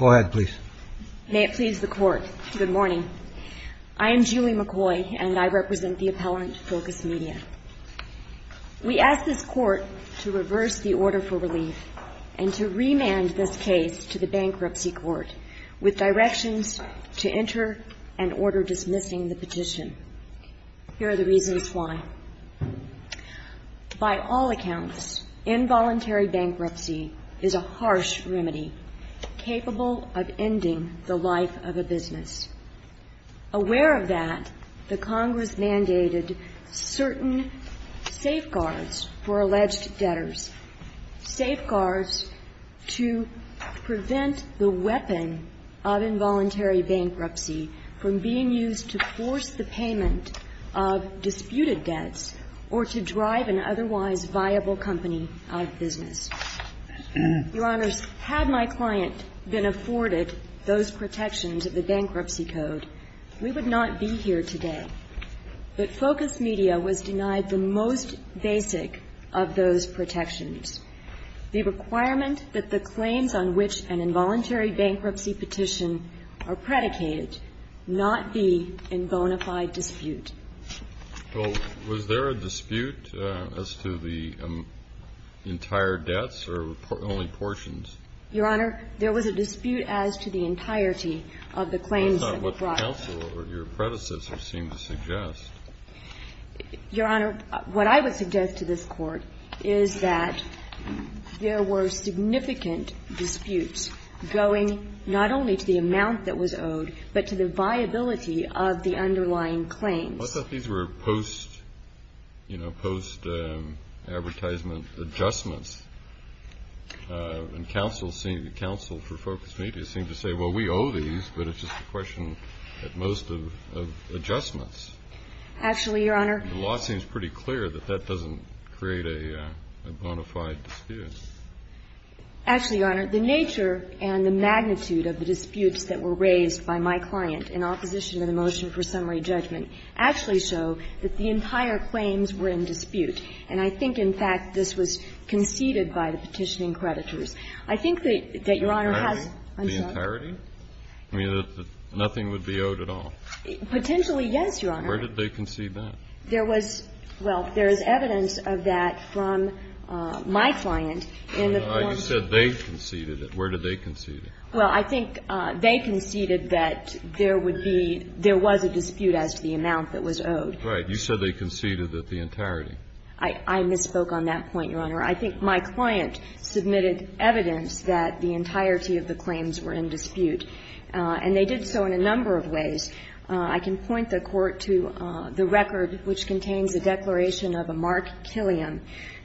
May it please the Court, good morning. I am Julie McCoy and I represent the appellant Focus Media. We ask this Court to reverse the order for relief and to remand this case to the Bankruptcy Court with directions to enter an order dismissing the petition. Here are the reasons why. By all accounts, involuntary bankruptcy is a harsh remedy capable of ending the life of a business. Aware of that, the Congress mandated certain safeguards for alleged debtors, safeguards to prevent the weapon of involuntary bankruptcy from being used to force the payment of disputed debts or to drive an otherwise unprofitable debt into the hands of a bankruptcy company. The Congress mandated that the Bankruptcy Court be able to afford it those protections of the Bankruptcy Code. We would not be here today. But Focus Media was denied the most basic of those protections, the requirement that the claims on which an involuntary bankruptcy is subject to be a dispute as to the entirety of the claims that were Kennedy. I thought what the counsel or your predecessor seemed to suggest. McCoy. Your Honor, what I would suggest to this Court is that there were significant disputes going not only to the amount that was owed, but to the viability of the underlying claims. I thought these were post, you know, post-advertisement adjustments. And counsel seemed to counsel for Focus Media seemed to say, well, we owe these, but it's just a question at most of adjustments. Actually, Your Honor. The law seems pretty clear that that doesn't create a bona fide dispute. Actually, Your Honor, the nature and the magnitude of the disputes that were raised by my client in opposition to the motion for summary judgment actually show that the entire claims were in dispute. And I think, in fact, this was conceded by the petitioning creditors. I think that Your Honor has. The entirety? I mean, that nothing would be owed at all? Potentially, yes, Your Honor. Where did they concede that? There was, well, there is evidence of that from my client in the form. You said they conceded it. Where did they concede it? Well, I think they conceded that there would be, there was a dispute as to the amount that was owed. Right. You said they conceded that the entirety. I misspoke on that point, Your Honor. I think my client submitted evidence that the entirety of the claims were in dispute. And they did so in a number of ways. I can point the Court to the record which contains a declaration of a Mark Killiam,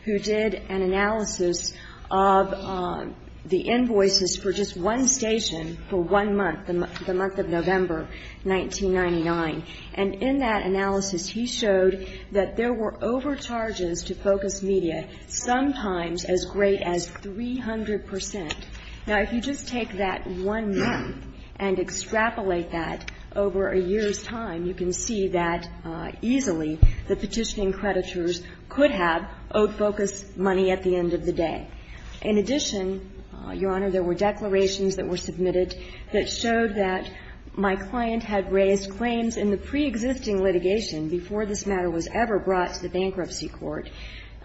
who did an analysis of the invoices for just one station for one month, the month of November, 1999. And in that analysis, he showed that there were overcharges to Focus Media, sometimes as great as 300 percent. Now, if you just take that one month and extrapolate that over a year's time, you can see that easily the petitioning creditors could have owed Focus money at the end of the day. In addition, Your Honor, there were declarations that were submitted that showed that my client had raised claims in the preexisting litigation before this matter was ever brought to the bankruptcy court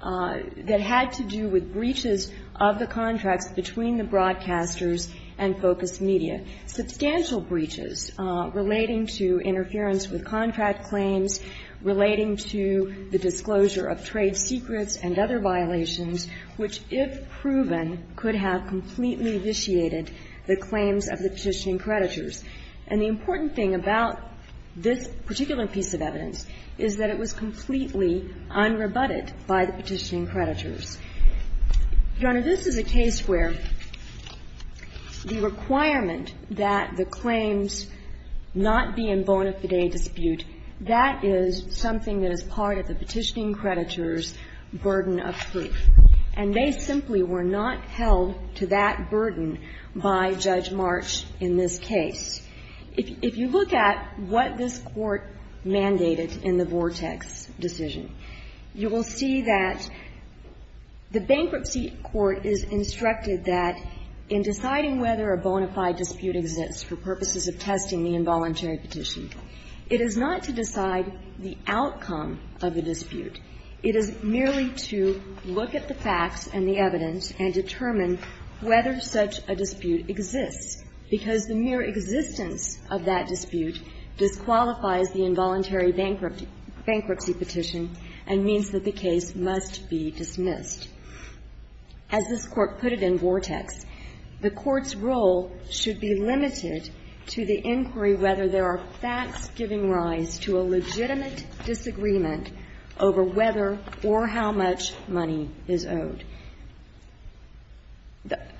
that had to do with breaches of the contracts between the broadcasters and Focus Media, substantial breaches relating to interference with contract claims, relating to the disclosure of trade secrets and other violations, which, if proven, could have completely vitiated the claims of the petitioning creditors. And the important thing about this particular piece of evidence is that it was completely unrebutted by the petitioning creditors. Your Honor, this is a case where the requirement that the claims not be in bona fide dispute, that is something that is part of the petitioning creditors' burden of proof. And they simply were not held to that burden by Judge March in this case. If you look at what this Court mandated in the Vortex decision, you will see that the bankruptcy court is instructed that in deciding whether a bona fide dispute exists for purposes of testing the involuntary petition, it is not to decide the outcome of the dispute. It is merely to look at the facts and the evidence and determine whether such a dispute exists, because the mere existence of that dispute disqualifies the involuntary bankruptcy petition and means that the case must be dismissed. As this Court put it in Vortex, the Court's role should be limited to the inquiry whether there are facts giving rise to a legitimate disagreement over whether or how much money is owed.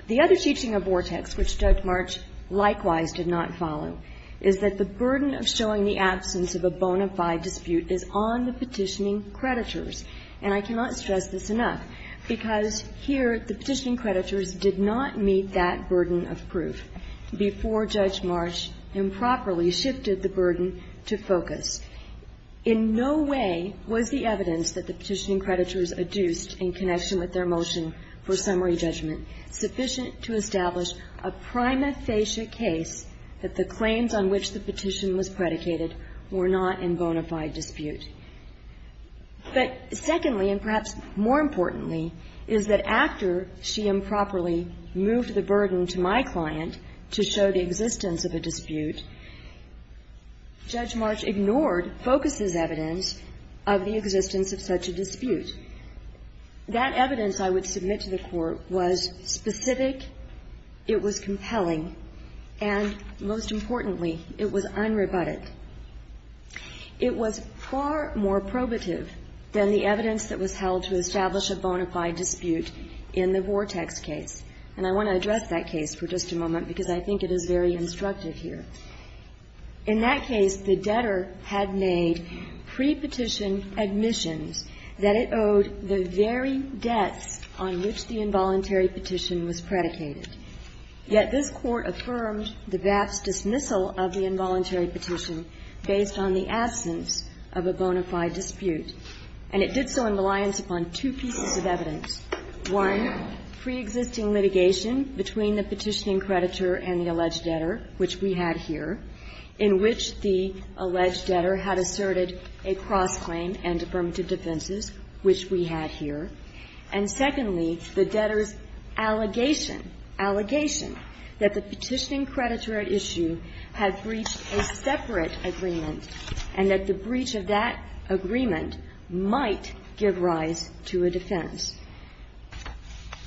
The other teaching of Vortex, which Judge March likewise did not follow, is that the burden of showing the absence of a bona fide dispute is on the petitioning creditors. And I cannot stress this enough, because here the petitioning creditors did not meet that burden of proof before Judge March improperly shifted the burden to focus. In no way was the evidence that the petitioning creditors adduced in connection with their motion for summary judgment sufficient to establish a prima facie case that the claims on which the petition was predicated were not in bona fide dispute. But, secondly, and perhaps more importantly, is that after she improperly moved the burden to my client to show the existence of a dispute, Judge March ignored, focuses evidence of the existence of such a dispute. That evidence, I would submit to the Court, was specific, it was compelling, and, most importantly, it was unrebutted. It was far more probative than the evidence that was held to establish a bona fide dispute in the Vortex case. And I want to address that case for just a moment, because I think it is very instructive here. In that case, the debtor had made prepetition admissions that it owed the very debts on which the involuntary petition was predicated. Yet this Court affirmed the VAF's dismissal of the involuntary petition based on the absence of a bona fide dispute. And it did so in reliance upon two pieces of evidence. One, preexisting litigation between the petitioning creditor and the alleged debtor, which we had here, in which the alleged debtor had asserted a cross-claim and affirmative defenses, which we had here. And secondly, the debtor's allegation, allegation, that the petitioning creditor at issue had breached a separate agreement and that the breach of that agreement might give rise to a defense.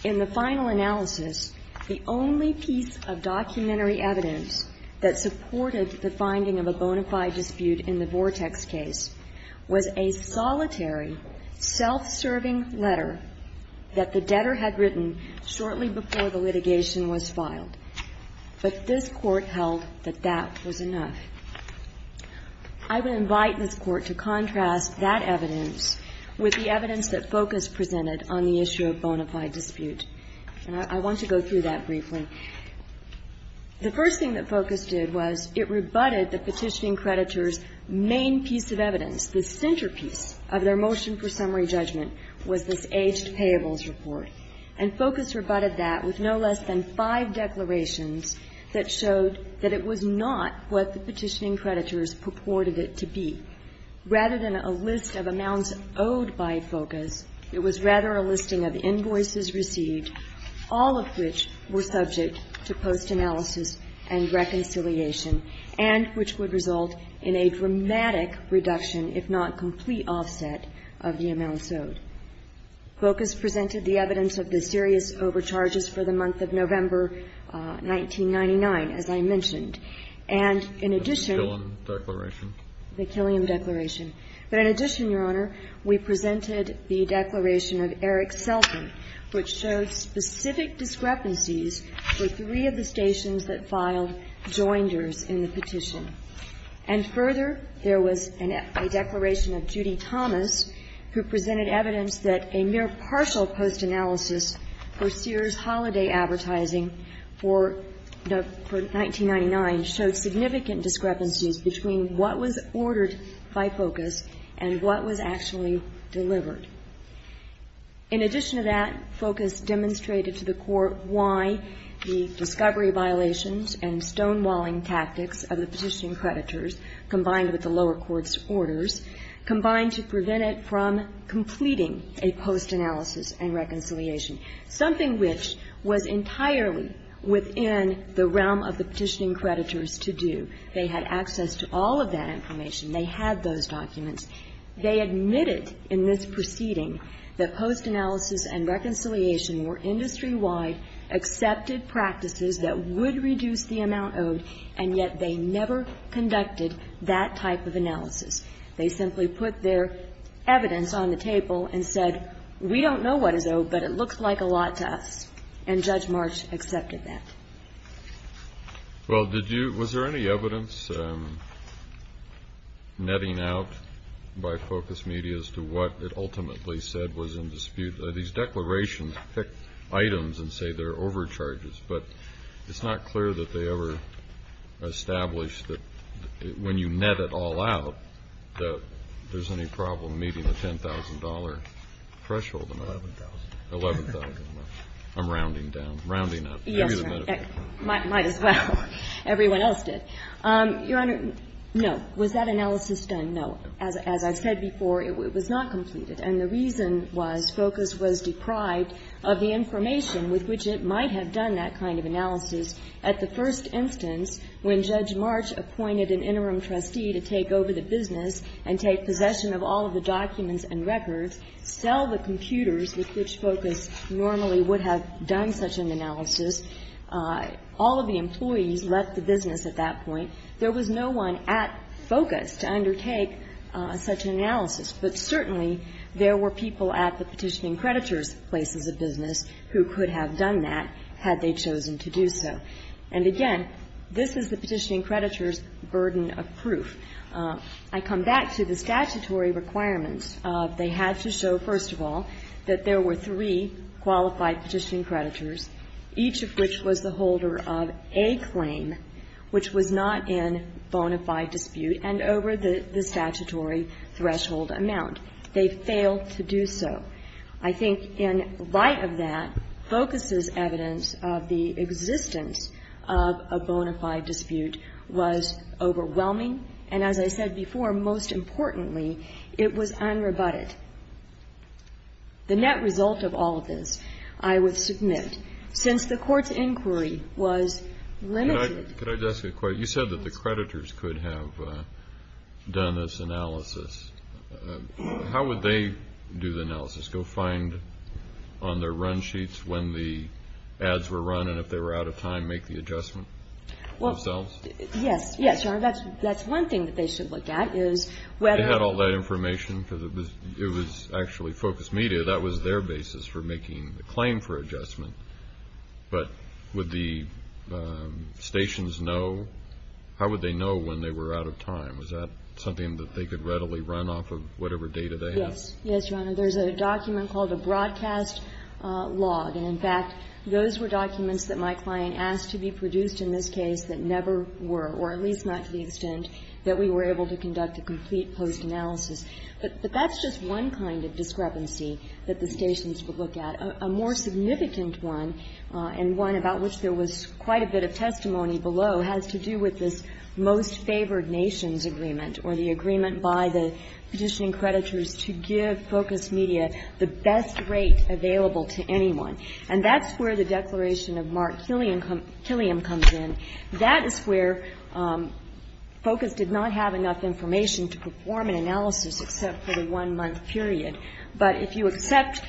In the final analysis, the only piece of documentary evidence that supported the finding of a bona fide dispute in the Vortex case was a solitary, self-serving letter that the debtor had written shortly before the litigation was filed. But this Court held that that was enough. I would invite this Court to contrast that evidence with the evidence that Focus presented on the issue of bona fide dispute. And I want to go through that briefly. The first thing that Focus did was it rebutted the petitioning creditor's main piece of evidence, the centerpiece of their motion for summary judgment, was this aged payables report, and Focus rebutted that with no less than five declarations that showed that it was not what the petitioning creditors purported it to be. Rather than a list of amounts owed by Focus, it was rather a listing of invoices offset of the amounts owed. Focus presented the evidence of the serious overcharges for the month of November 1999, as I mentioned. And in addition to the Killiam declaration. But in addition, Your Honor, we presented the declaration of Eric Selden, which showed specific discrepancies for three of the stations that filed joinders in the petition. And further, there was a declaration of Judy Thomas, who presented evidence that a mere partial post-analysis for Sears Holiday Advertising for 1999 showed significant discrepancies between what was ordered by Focus and what was actually delivered. In addition to that, Focus demonstrated to the Court why the discovery violations and stonewalling tactics of the petitioning creditors, combined with the lower court's orders, combined to prevent it from completing a post-analysis and reconciliation, something which was entirely within the realm of the petitioning creditors to do. They had access to all of that information. They had those documents. They admitted in this proceeding that post-analysis and reconciliation were industry-wide, accepted practices that would reduce the amount owed, and yet they never conducted that type of analysis. They simply put their evidence on the table and said, we don't know what is owed, but it looks like a lot to us. And Judge March accepted that. Well, did you ñ was there any evidence netting out by Focus Media as to what it ultimately said was in dispute? These declarations pick items and say they're overcharges, but it's not clear that they ever established that when you net it all out that there's any problem meeting the $10,000 threshold amount. $11,000. $11,000. I'm rounding down. Rounding up. Yes, Your Honor. Might as well. Everyone else did. Your Honor, no. Was that analysis done? No. As I've said before, it was not completed. And the reason was Focus was deprived of the information with which it might have done that kind of analysis at the first instance when Judge March appointed an interim trustee to take over the business and take possession of all of the documents and records, sell the computers with which Focus normally would have done such an analysis. All of the employees left the business at that point. But certainly there were people at the petitioning creditor's places of business who could have done that had they chosen to do so. And again, this is the petitioning creditor's burden of proof. I come back to the statutory requirements. They had to show, first of all, that there were three qualified petitioning creditors, each of which was the holder of a claim which was not in bona fide dispute and over the statutory threshold amount. They failed to do so. I think in light of that, Focus's evidence of the existence of a bona fide dispute was overwhelming. And as I said before, most importantly, it was unrebutted. The net result of all of this, I would submit, since the Court's inquiry was limited Could I just ask a question? You said that the creditors could have done this analysis. How would they do the analysis? Go find on their run sheets when the ads were run and if they were out of time, make the adjustment themselves? Yes. Yes, Your Honor. That's one thing that they should look at is whether They had all that information because it was actually Focus Media. That was their basis for making the claim for adjustment. But would the stations know? How would they know when they were out of time? Was that something that they could readily run off of whatever data they had? Yes. Yes, Your Honor. There's a document called a broadcast log. And in fact, those were documents that my client asked to be produced in this case that never were, or at least not to the extent that we were able to conduct a complete post analysis. But that's just one kind of discrepancy that the stations would look at. A more significant one, and one about which there was quite a bit of testimony below, has to do with this most favored nations agreement or the agreement by the petitioning creditors to give Focus Media the best rate available to anyone. And that's where the declaration of Mark Killiam comes in. That is where Focus did not have enough information to perform an analysis except for the one-month period. But if you accept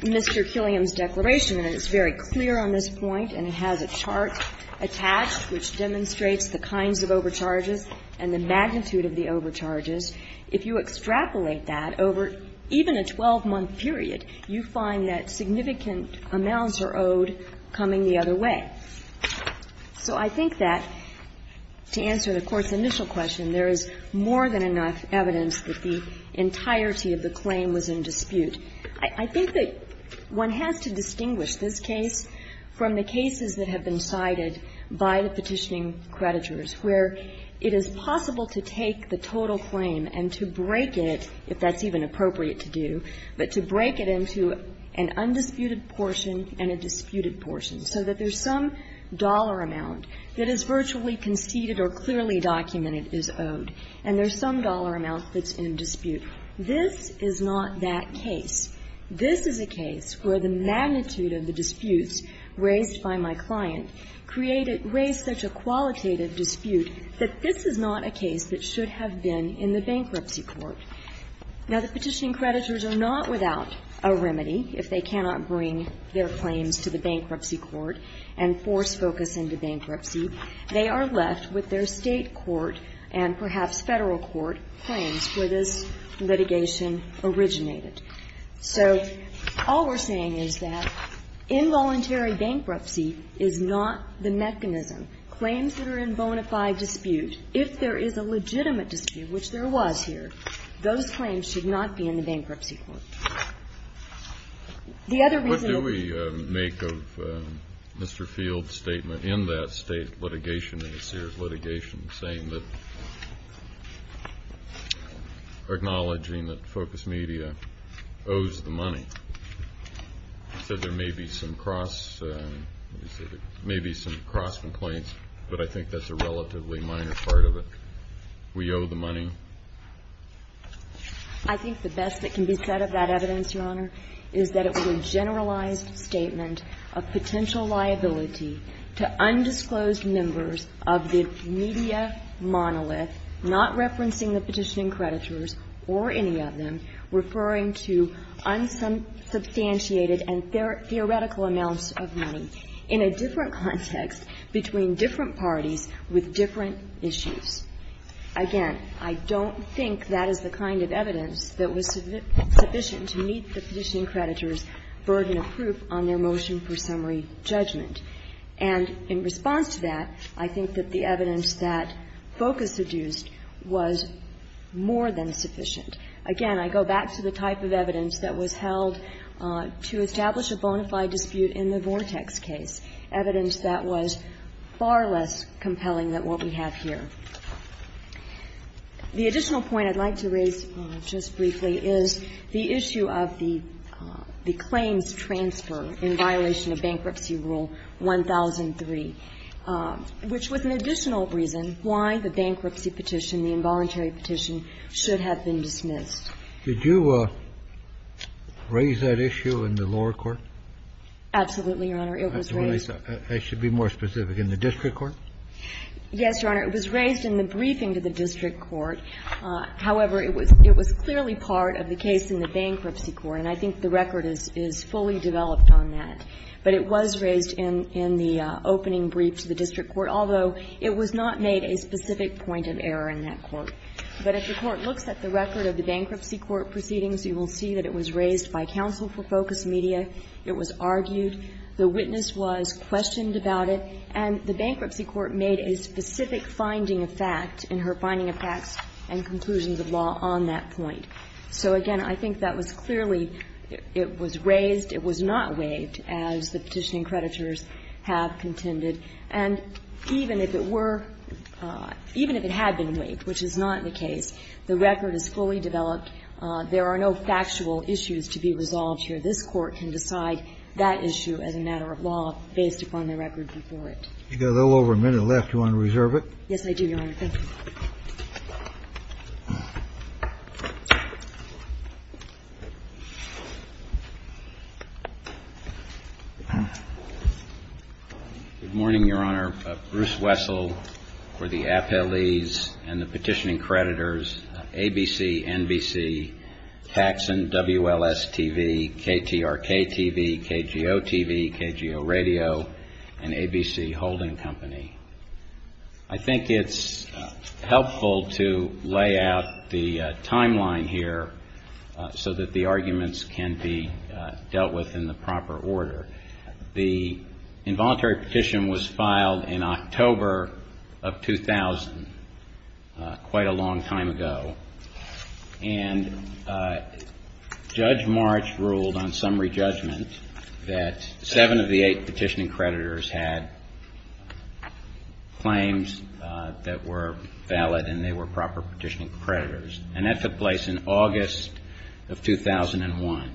Mr. Killiam's declaration, and it's very clear on this point, and it has a chart attached which demonstrates the kinds of overcharges and the magnitude of the overcharges, if you extrapolate that over even a 12-month period, you find that significant amounts are owed coming the other way. So I think that, to answer the Court's initial question, there is more than enough evidence that the entirety of the claim was in dispute. I think that one has to distinguish this case from the cases that have been cited by the petitioning creditors, where it is possible to take the total claim and to break it, if that's even appropriate to do, but to break it into an undisputed portion and a disputed portion, so that there's some dollar amount that is virtually conceded or clearly documented is owed, and there's some dollar amount that's in dispute. This is not that case. This is a case where the magnitude of the disputes raised by my client created raised such a qualitative dispute that this is not a case that should have been in the Bankruptcy Court. Now, the petitioning creditors are not without a remedy if they cannot bring their left with their State court and perhaps Federal court claims where this litigation originated. So all we're saying is that involuntary bankruptcy is not the mechanism. Claims that are in bona fide dispute, if there is a legitimate dispute, which there was here, those claims should not be in the Bankruptcy Court. The other reason that we make of Mr. Field's statement in that State litigation and the Sears litigation is saying that, or acknowledging that Focus Media owes the money. He said there may be some cross, he said there may be some cross complaints, but I think that's a relatively minor part of it. We owe the money. I think the best that can be said of that evidence, Your Honor, is that it was a monolith, not referencing the petitioning creditors or any of them, referring to unsubstantiated and theoretical amounts of money in a different context between different parties with different issues. Again, I don't think that is the kind of evidence that was sufficient to meet the petitioning creditors' burden of proof on their motion for summary judgment. And in response to that, I think that the evidence that Focus seduced was more than sufficient. Again, I go back to the type of evidence that was held to establish a bona fide dispute in the Vortex case, evidence that was far less compelling than what we have here. The additional point I'd like to raise just briefly is the issue of the claims transfer in violation of Bankruptcy Rule 1003, which was an additional reason why the bankruptcy petition, the involuntary petition, should have been dismissed. Did you raise that issue in the lower court? Absolutely, Your Honor. It was raised. I should be more specific. In the district court? Yes, Your Honor. It was raised in the briefing to the district court. However, it was clearly part of the case in the bankruptcy court. And I think the record is fully developed on that. But it was raised in the opening brief to the district court, although it was not made a specific point of error in that court. But if the court looks at the record of the bankruptcy court proceedings, you will see that it was raised by counsel for Focus Media. It was argued. The witness was questioned about it. And the bankruptcy court made a specific finding of fact in her finding of facts and conclusions of law on that point. So, again, I think that was clearly, it was raised, it was not waived, as the petitioning creditors have contended. And even if it were, even if it had been waived, which is not the case, the record is fully developed. There are no factual issues to be resolved here. This Court can decide that issue as a matter of law based upon the record before it. You've got a little over a minute left. Do you want to reserve it? Yes, I do, Your Honor. Thank you. Good morning, Your Honor. Bruce Wessel for the appellees and the petitioning creditors, ABC, NBC, Paxson, WLS-TV, KTRK-TV, KGO-TV, KGO-Radio, and ABC Holding Company. I think it's helpful to lay out the timeline here so that the arguments can be dealt with in the proper order. The involuntary petition was filed in October of 2000, quite a long time ago. And Judge March ruled on summary judgment that seven of the eight petitioning creditors had claims that were valid and they were proper petitioning creditors. And that took place in August of 2001.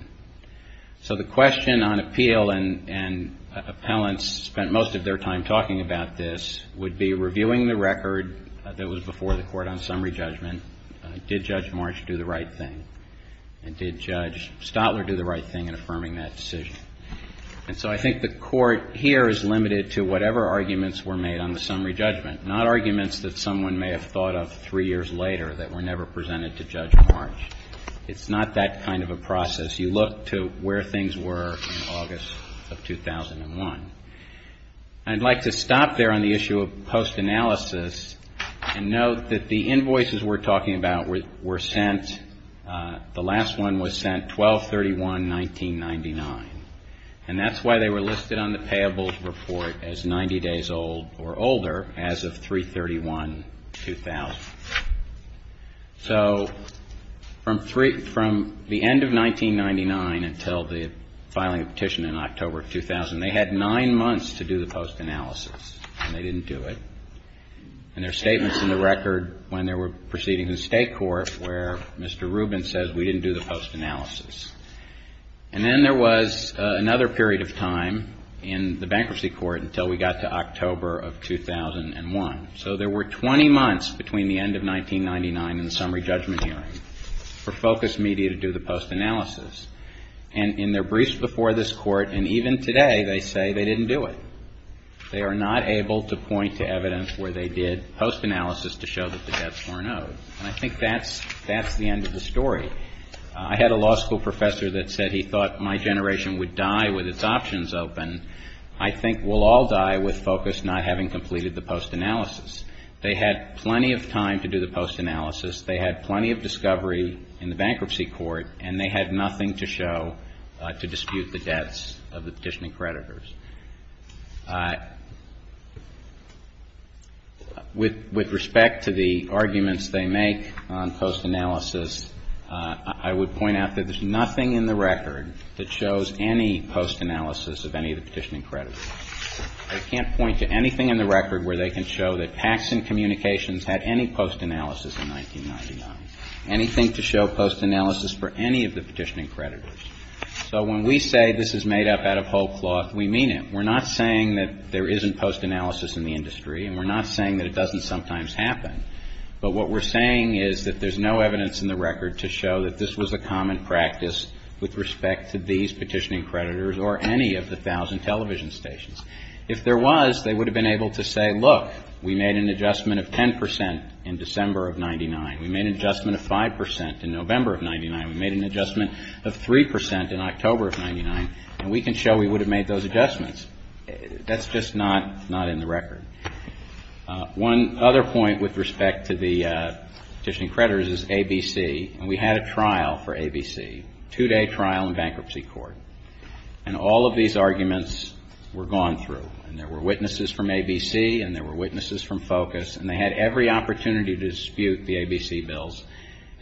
So the question on appeal and appellants spent most of their time talking about this would be reviewing the record that was before the Court on summary judgment. Did Judge March do the right thing? And did Judge Stotler do the right thing in affirming that decision? And so I think the Court here is limited to whatever arguments were made on the summary judgment, not arguments that someone may have thought of three years later that were never presented to Judge March. It's not that kind of a process. You look to where things were in August of 2001. I'd like to stop there on the issue of post analysis and note that the invoices we're talking about were sent, the last one was sent 12-31-1999. And that's why they were listed on the payables report as 90 days old or older as of 3-31-2000. So from the end of 1999 until the filing of petition in October of 2000, they had nine months to do the post analysis and they didn't do it. And there are statements in the record when they were proceeding in the State Court where Mr. Rubin says we didn't do the post analysis. And then there was another period of time in the bankruptcy court until we got to October of 2001. So there were 20 months between the end of 1999 and the summary judgment hearing for Focus Media to do the post analysis. And in their briefs before this Court and even today, they say they didn't do it. They are not able to point to evidence where they did post analysis to show that the debts weren't owed. And I think that's the end of the story. I had a law school professor that said he thought my generation would die with its options open. I think we'll all die with Focus not having completed the post analysis. They had plenty of time to do the post analysis. They had plenty of discovery in the bankruptcy court. And they had nothing to show to dispute the debts of the petitioning creditors. With respect to the arguments they make on post analysis, I would point out that there's nothing in the record that shows any post analysis of any of the petitioning creditors. They can't point to anything in the record where they can show that Paxson Communications had any post analysis in 1999, anything to show post analysis for any of the petitioning creditors. So when we say this is made up out of whole cloth, we mean it. We're not saying that there isn't post analysis in the industry, and we're not saying that it doesn't sometimes happen. But what we're saying is that there's no evidence in the record to show that this was a common practice with respect to these petitioning creditors or any of the thousand television stations. If there was, they would have been able to say, look, we made an adjustment of 10 percent in December of 1999. We made an adjustment of 5 percent in November of 1999. We made an adjustment of 3 percent in October of 1999. And we can show we would have made those adjustments. That's just not in the record. One other point with respect to the petitioning creditors is ABC. And we had a trial for ABC, two-day trial in bankruptcy court. And all of these arguments were gone through. And there were witnesses from ABC, and there were witnesses from Focus, and they had every opportunity to dispute the ABC bills,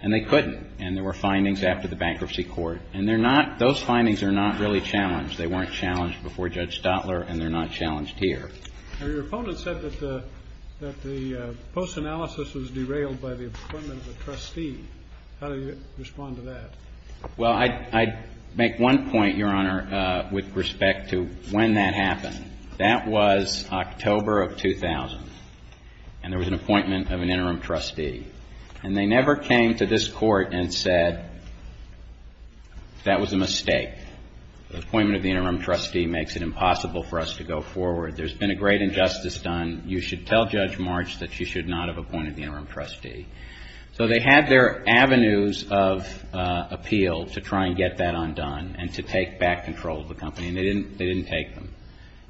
and they couldn't. And there were findings after the bankruptcy court. And they're not, those findings are not really challenged. They weren't challenged before Judge Stotler, and they're not challenged here. Your opponent said that the post analysis was derailed by the appointment of a trustee. How do you respond to that? Well, I'd make one point, Your Honor, with respect to when that happened. That was October of 2000. And there was an appointment of an interim trustee. And they never came to this court and said that was a mistake. The appointment of the interim trustee makes it impossible for us to go forward. There's been a great injustice done. You should tell Judge March that she should not have appointed the interim trustee. So they had their avenues of appeal to try and get that undone and to take back control of the company. And they didn't take them.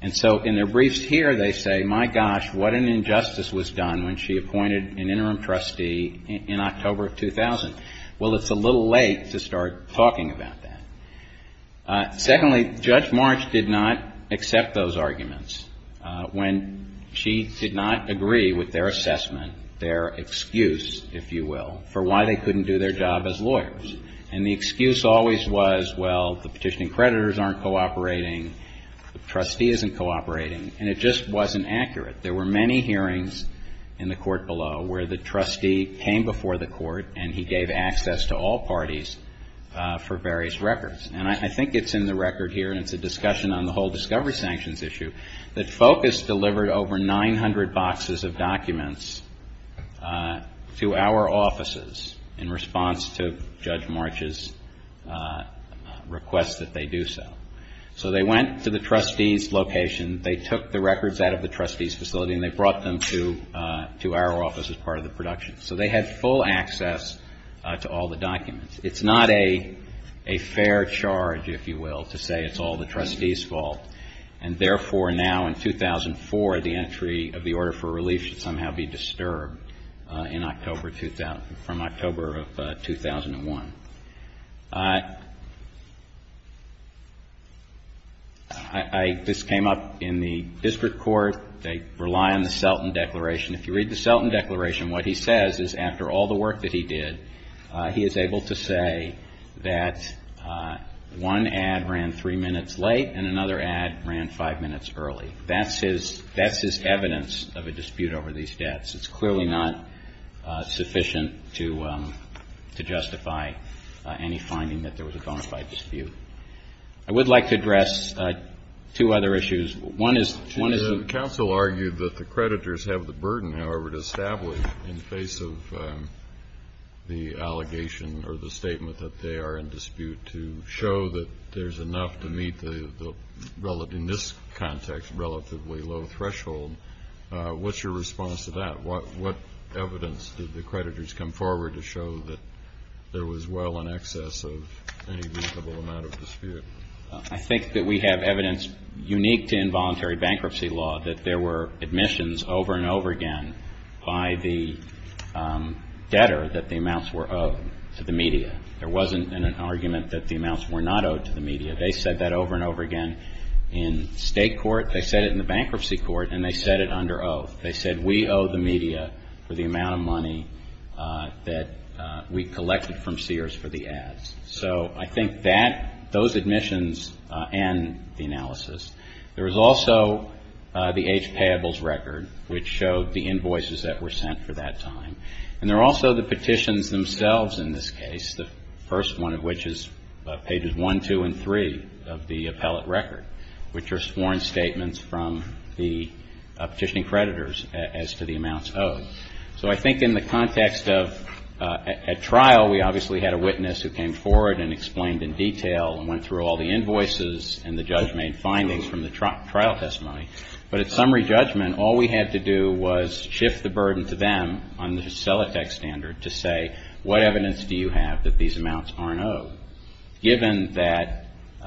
And so in their briefs here, they say, my gosh, what an injustice was done when she appointed an interim trustee in October of 2000. Well, it's a little late to start talking about that. Secondly, Judge March did not accept those arguments when she did not agree with their assessment, their excuse, if you will, for why they couldn't do their job as lawyers. And the excuse always was, well, the petitioning creditors aren't cooperating, the trustee isn't cooperating. And it just wasn't accurate. There were many hearings in the court below where the trustee came before the court and he gave access to all parties for various records. And I think it's in the record here, and it's a discussion on the whole discovery sanctions issue, that FOCUS delivered over 900 boxes of documents to our offices in response to Judge March's request that they do so. So they went to the trustee's location. They took the records out of the trustee's facility and they brought them to our office as part of the production. So they had full access to all the documents. It's not a fair charge, if you will, to say it's all the trustee's fault. And therefore, now in 2004, the entry of the order for relief should somehow be disturbed in October 2000, from October of 2001. I just came up in the district court. They rely on the Selton Declaration. If you read the Selton Declaration, what he says is after all the work that he did, he is able to say that one ad ran three minutes late and another ad ran five minutes early. That's his evidence of a dispute over these debts. It's clearly not sufficient to justify any finding that there was a bona fide dispute. I would like to address two other issues. One is the counsel argued that the creditors have the burden, however, to establish in the face of the allegation or the statement that they are in dispute to show that there's enough to meet in this context a relatively low threshold. What's your response to that? What evidence did the creditors come forward to show that there was well in excess of any reasonable amount of dispute? I think that we have evidence unique to involuntary bankruptcy law, that there were admissions over and over again by the debtor that the amounts were owed to the media. There wasn't an argument that the amounts were not owed to the media. They said that over and over again in state court. They said it in the bankruptcy court, and they said it under oath. They said we owe the media for the amount of money that we collected from Sears for the ads. So I think that those admissions and the analysis. There was also the age payables record, which showed the invoices that were sent for that time. And there are also the petitions themselves in this case, the first one of which is pages one, two, and three of the appellate record, which are sworn statements from the petitioning creditors as to the amounts owed. So I think in the context of a trial, we obviously had a witness who came forward and explained in detail and went through all the invoices and the judgment findings from the trial testimony. But at summary judgment, all we had to do was shift the burden to them on the CELATEC standard to say, what evidence do you have that these amounts aren't owed? So given that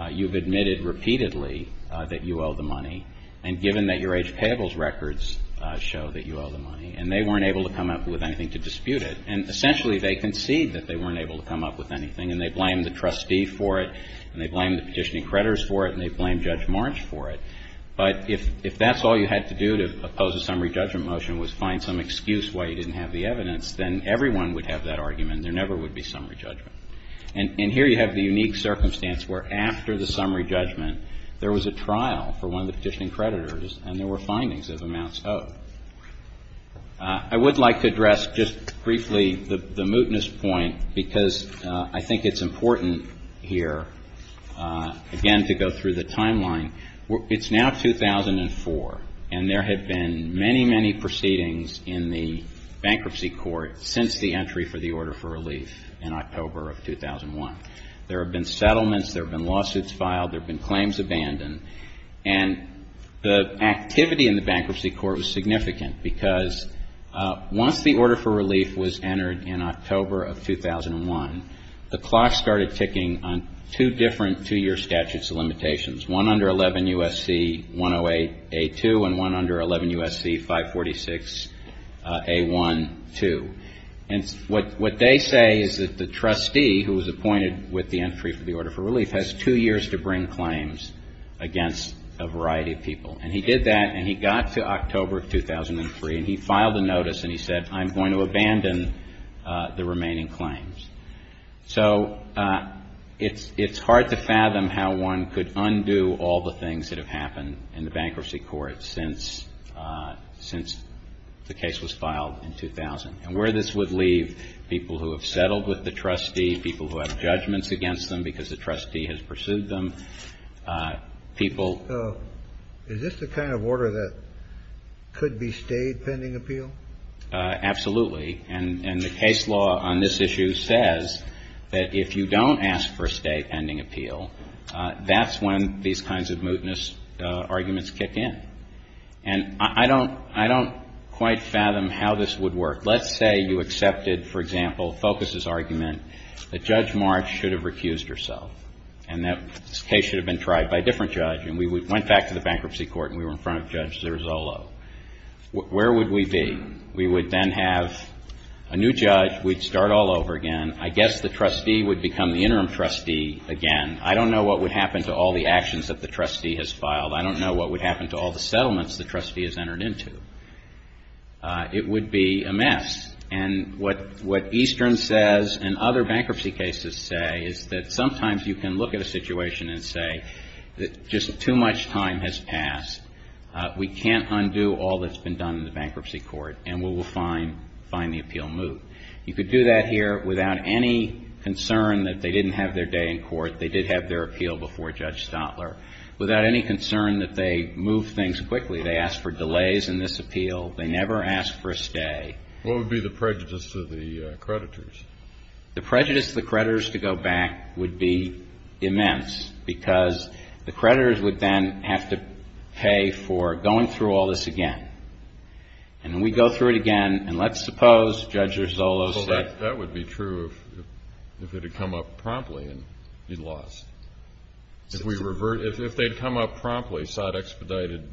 you've admitted repeatedly that you owe the money, and given that your age payables records show that you owe the money, and they weren't able to come up with anything to dispute it, and essentially they concede that they weren't able to come up with anything, and they blame the trustee for it, and they blame the petitioning creditors for it, and they blame Judge March for it. But if that's all you had to do to oppose a summary judgment motion was find some excuse why you didn't have the evidence, then everyone would have that argument. There never would be summary judgment. And here you have the unique circumstance where after the summary judgment, there was a trial for one of the petitioning creditors, and there were findings of amounts owed. I would like to address just briefly the mootness point, because I think it's important here, again, to go through the timeline. It's now 2004, and there have been many, many proceedings in the bankruptcy court since the entry for the order for relief in October of 2001. There have been settlements. There have been lawsuits filed. There have been claims abandoned. And the activity in the bankruptcy court was significant, because once the order for relief was entered in October of 2001, the clock started ticking on two different two-year statutes of limitations, one under 11 U.S.C. 108A2 and one under 11 U.S.C. 546A12. And what they say is that the trustee who was appointed with the entry for the order for relief has two years to bring claims against a variety of people. And he did that, and he got to October of 2003, and he filed a notice, and he said, I'm going to abandon the remaining claims. So it's hard to fathom how one could undo all the things that have happened in the bankruptcy court since the case was filed in 2000. And where this would leave people who have settled with the trustee, people who have judgments against them because the trustee has pursued them, people ---- Is this the kind of order that could be stayed pending appeal? Absolutely. And the case law on this issue says that if you don't ask for a stay pending appeal, that's when these kinds of mootness arguments kick in. And I don't quite fathom how this would work. Let's say you accepted, for example, Focus's argument that Judge March should have recused herself and that this case should have been tried by a different judge, and we went back to the bankruptcy court and we were in front of Judge Zerzolo. Where would we be? We would then have a new judge. We'd start all over again. I guess the trustee would become the interim trustee again. I don't know what would happen to all the actions that the trustee has filed. I don't know what would happen to all the settlements the trustee has entered into. It would be a mess. And what Eastern says and other bankruptcy cases say is that sometimes you can look at a situation and say that just too much time has passed. We can't undo all that's been done in the bankruptcy court, and we will find the appeal moot. You could do that here without any concern that they didn't have their day in court. They did have their appeal before Judge Stotler. Without any concern that they move things quickly, they ask for delays in this appeal. They never ask for a stay. What would be the prejudice to the creditors? The prejudice to the creditors to go back would be immense, because the creditors would then have to pay for going through all this again. And we'd go through it again, and let's suppose Judge Erzolo said. Well, that would be true if it had come up promptly and you'd lost. If they'd come up promptly, sought expedited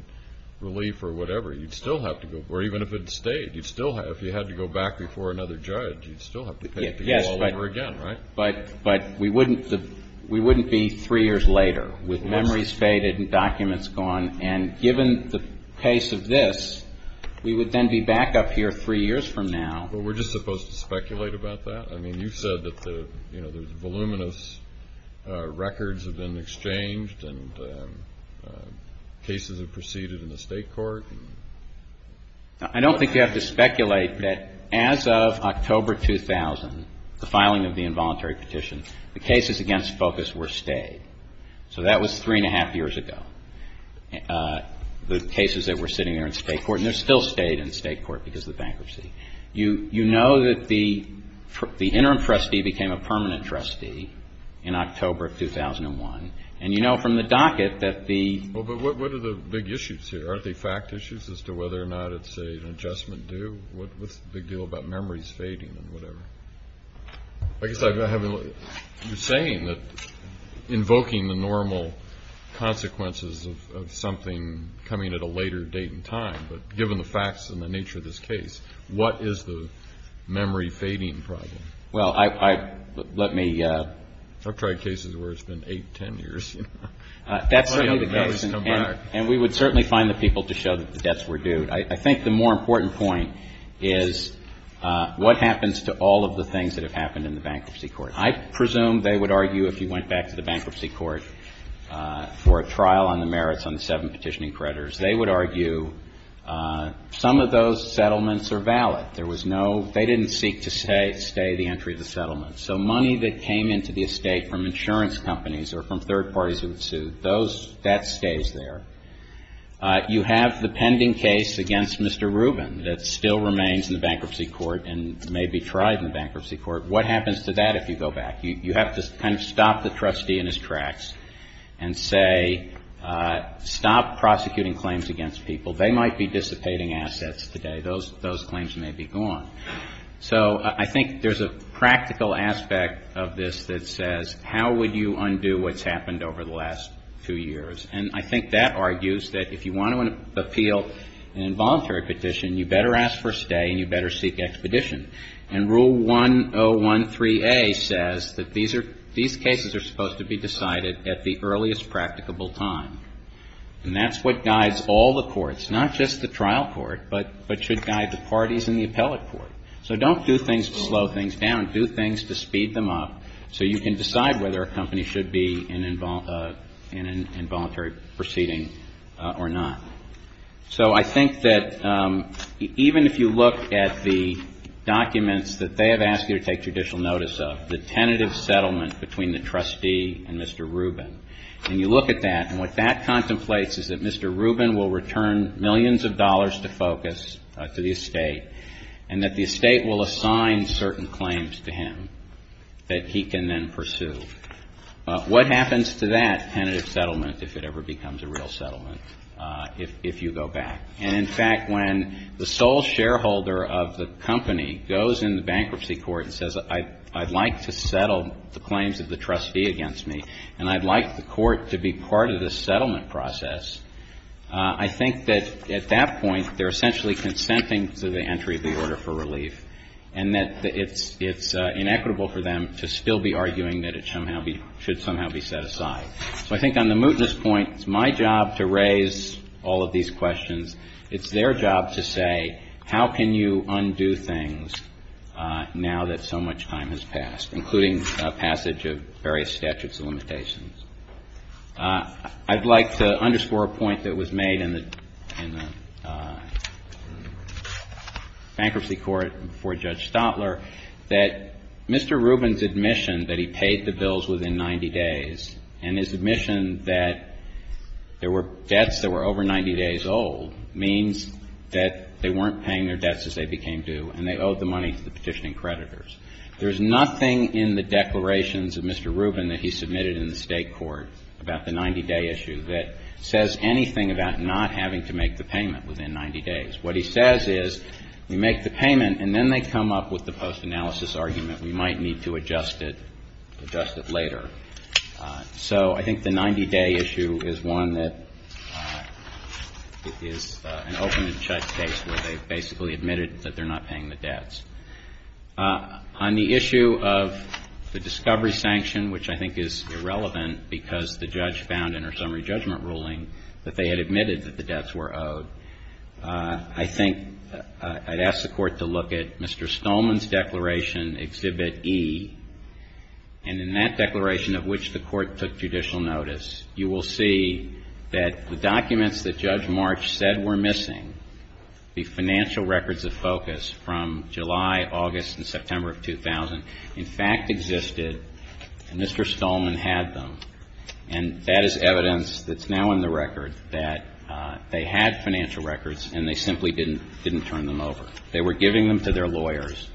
relief or whatever, you'd still have to go. Or even if it stayed, if you had to go back before another judge, you'd still have to pay to go all over again, right? But we wouldn't be three years later with memories faded and documents gone. And given the pace of this, we would then be back up here three years from now. But we're just supposed to speculate about that? I mean, you said that the voluminous records have been exchanged and cases have proceeded in the state court. I don't think you have to speculate that as of October 2000, the filing of the involuntary petition, the cases against Focus were stayed. So that was three and a half years ago, the cases that were sitting there in state court. And they're still stayed in state court because of the bankruptcy. You know that the interim trustee became a permanent trustee in October of 2001. And you know from the docket that the — Do you have any issues as to whether or not it's an adjustment due? What's the big deal about memories fading and whatever? I guess I have — you're saying that invoking the normal consequences of something coming at a later date and time. But given the facts and the nature of this case, what is the memory fading problem? Well, I — let me — I've tried cases where it's been eight, ten years. That's certainly the case. And we would certainly find the people to show that the debts were due. I think the more important point is what happens to all of the things that have happened in the bankruptcy court. I presume they would argue if you went back to the bankruptcy court for a trial on the merits on the seven petitioning creditors, they would argue some of those settlements are valid. There was no — they didn't seek to stay the entry of the settlement. So money that came into the estate from insurance companies or from third parties who had sued, those — that stays there. You have the pending case against Mr. Rubin that still remains in the bankruptcy court and may be tried in the bankruptcy court. What happens to that if you go back? You have to kind of stop the trustee in his tracks and say, stop prosecuting claims against people. They might be dissipating assets today. Those claims may be gone. So I think there's a practical aspect of this that says, how would you undo what's happened over the last two years? And I think that argues that if you want to appeal an involuntary petition, you better ask for a stay and you better seek expedition. And Rule 1013A says that these are — these cases are supposed to be decided at the earliest practicable time. And that's what guides all the courts, not just the trial court, but should guide the parties in the appellate court. So don't do things to slow things down. Do things to speed them up so you can decide whether a company should be in involuntary proceeding or not. So I think that even if you look at the documents that they have asked you to take judicial notice of, the tentative settlement between the trustee and Mr. Rubin, and you look at that, and what that contemplates is that Mr. Rubin will return millions of dollars to FOCUS, to the estate, and that the estate will assign certain claims to him that he can then pursue. What happens to that tentative settlement if it ever becomes a real settlement, if you go back? And, in fact, when the sole shareholder of the company goes in the bankruptcy court and says, I'd like to settle the claims of the trustee against me, and I'd like the court to be part of the settlement process, I think that at that point they're essentially consenting to the entry of the order for relief, and that it's inequitable for them to still be arguing that it should somehow be set aside. So I think on the mootness point, it's my job to raise all of these questions. It's their job to say, how can you undo things now that so much time has passed, including passage of various statutes of limitations? I'd like to underscore a point that was made in the bankruptcy court before Judge Stotler, that Mr. Rubin's admission that he paid the bills within 90 days, and his admission that there were debts that were over 90 days old, means that they weren't paying their debts as they became due, and they owed the money to the petitioning creditors. There is nothing in the declarations of Mr. Rubin that he submitted in the State court about the 90-day issue that says anything about not having to make the payment within 90 days. What he says is, we make the payment, and then they come up with the post-analysis argument, we might need to adjust it, adjust it later. So I think the 90-day issue is one that is an open and shut case where they basically admitted that they're not paying the debts. On the issue of the discovery sanction, which I think is irrelevant, because the judge found in her summary judgment ruling that they had admitted that the debts were owed, I think I'd ask the court to look at Mr. Stolman's declaration, Exhibit E, and in that declaration of which the court took judicial notice, you will see that the documents that Judge March said were missing, the financial records of focus from July, August, and September of 2000, in fact existed, and Mr. Stolman had them. And that is evidence that's now in the record that they had financial records and they simply didn't turn them over. They were giving them to their lawyers.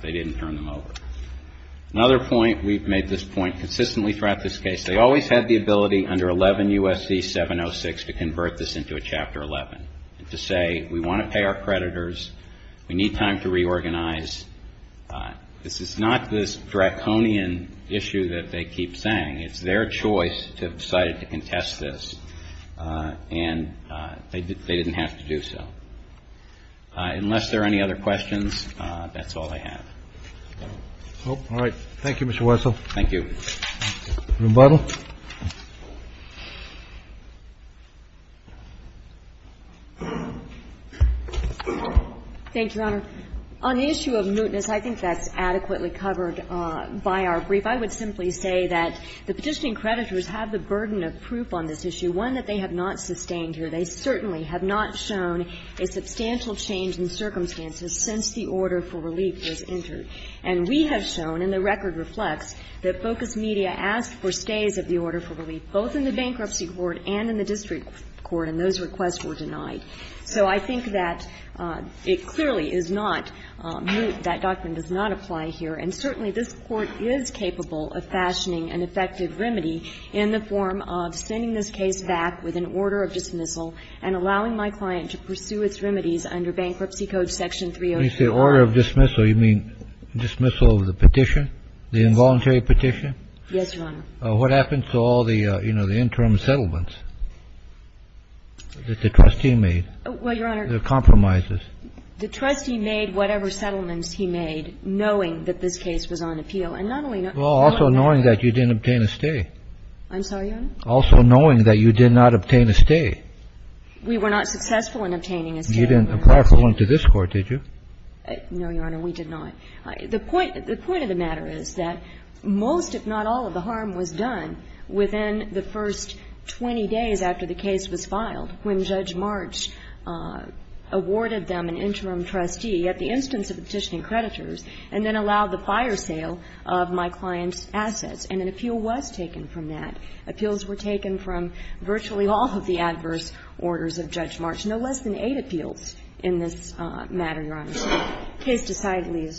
They didn't turn them over. Another point, we've made this point consistently throughout this case, they always had the ability under 11 U.S.C. 706 to convert this into a Chapter 11, to say we want to pay our creditors, we need time to reorganize. This is not this draconian issue that they keep saying. It's their choice to have decided to contest this, and they didn't have to do so. Unless there are any other questions, that's all I have. All right. Thank you, Mr. Wessel. Thank you. Rebuttal. Thank you, Your Honor. On the issue of mootness, I think that's adequately covered by our brief. I would simply say that the petitioning creditors have the burden of proof on this issue, one that they have not sustained here. They certainly have not shown a substantial change in circumstances since the order for relief was entered. And we have shown, and the record reflects, that Focus Media asked for stays of the order for relief, both in the Bankruptcy Court and in the District Court, and those requests were denied. So I think that it clearly is not moot, that doctrine does not apply here. And certainly this Court is capable of fashioning an effective remedy in the form of sending this case back with an order of dismissal and allowing my client to pursue its remedies under Bankruptcy Code Section 304. You say order of dismissal. You mean dismissal of the petition, the involuntary petition? Yes, Your Honor. What happens to all the, you know, the interim settlements that the trustee made? Well, Your Honor. The compromises. The trustee made whatever settlements he made knowing that this case was on appeal. And not only knowing that. Well, also knowing that you didn't obtain a stay. I'm sorry, Your Honor? Also knowing that you did not obtain a stay. We were not successful in obtaining a stay. You didn't apply for one to this Court, did you? No, Your Honor. We did not. The point of the matter is that most, if not all, of the harm was done within the first 20 days after the case was filed when Judge March awarded them an interim trustee at the instance of petitioning creditors and then allowed the fire sale of my client's assets. And an appeal was taken from that. Appeals were taken from virtually all of the adverse orders of Judge March. No less than eight appeals in this matter, Your Honor. So case decidedly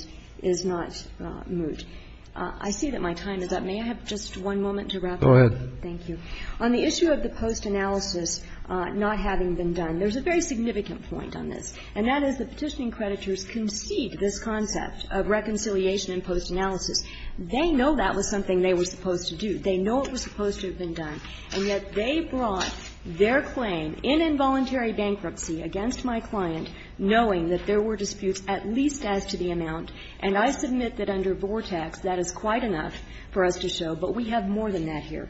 is not moot. I see that my time is up. May I have just one moment to wrap up? Go ahead. Thank you. On the issue of the post-analysis not having been done, there's a very significant point on this, and that is the petitioning creditors concede this concept of reconciliation in post-analysis. They know that was something they were supposed to do. They know it was supposed to have been done. And yet they brought their claim in involuntary bankruptcy against my client, knowing that there were disputes at least as to the amount. And I submit that under Vortex, that is quite enough for us to show. But we have more than that here.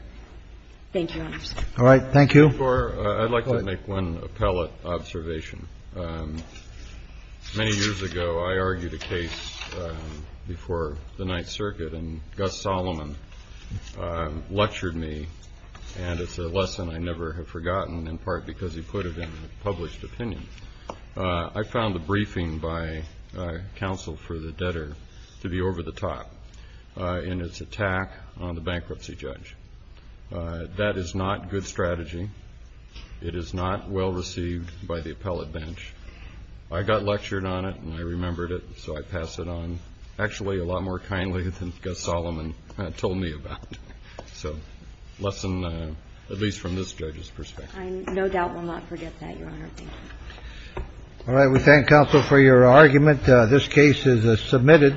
Thank you, Your Honors. All right. Thank you. I'd like to make one appellate observation. Many years ago, I argued a case before the Ninth Circuit, and Gus Solomon lectured me, and it's a lesson I never have forgotten, in part because he put it in a published opinion. I found the briefing by counsel for the debtor to be over the top. And it's a tax on the bankruptcy judge. That is not good strategy. It is not well received by the appellate bench. I got lectured on it, and I remembered it, so I pass it on. Actually, a lot more kindly than Gus Solomon told me about. So lesson, at least from this judge's perspective. I no doubt will not forget that, Your Honor. Thank you. All right. We thank counsel for your argument. This case is submitted.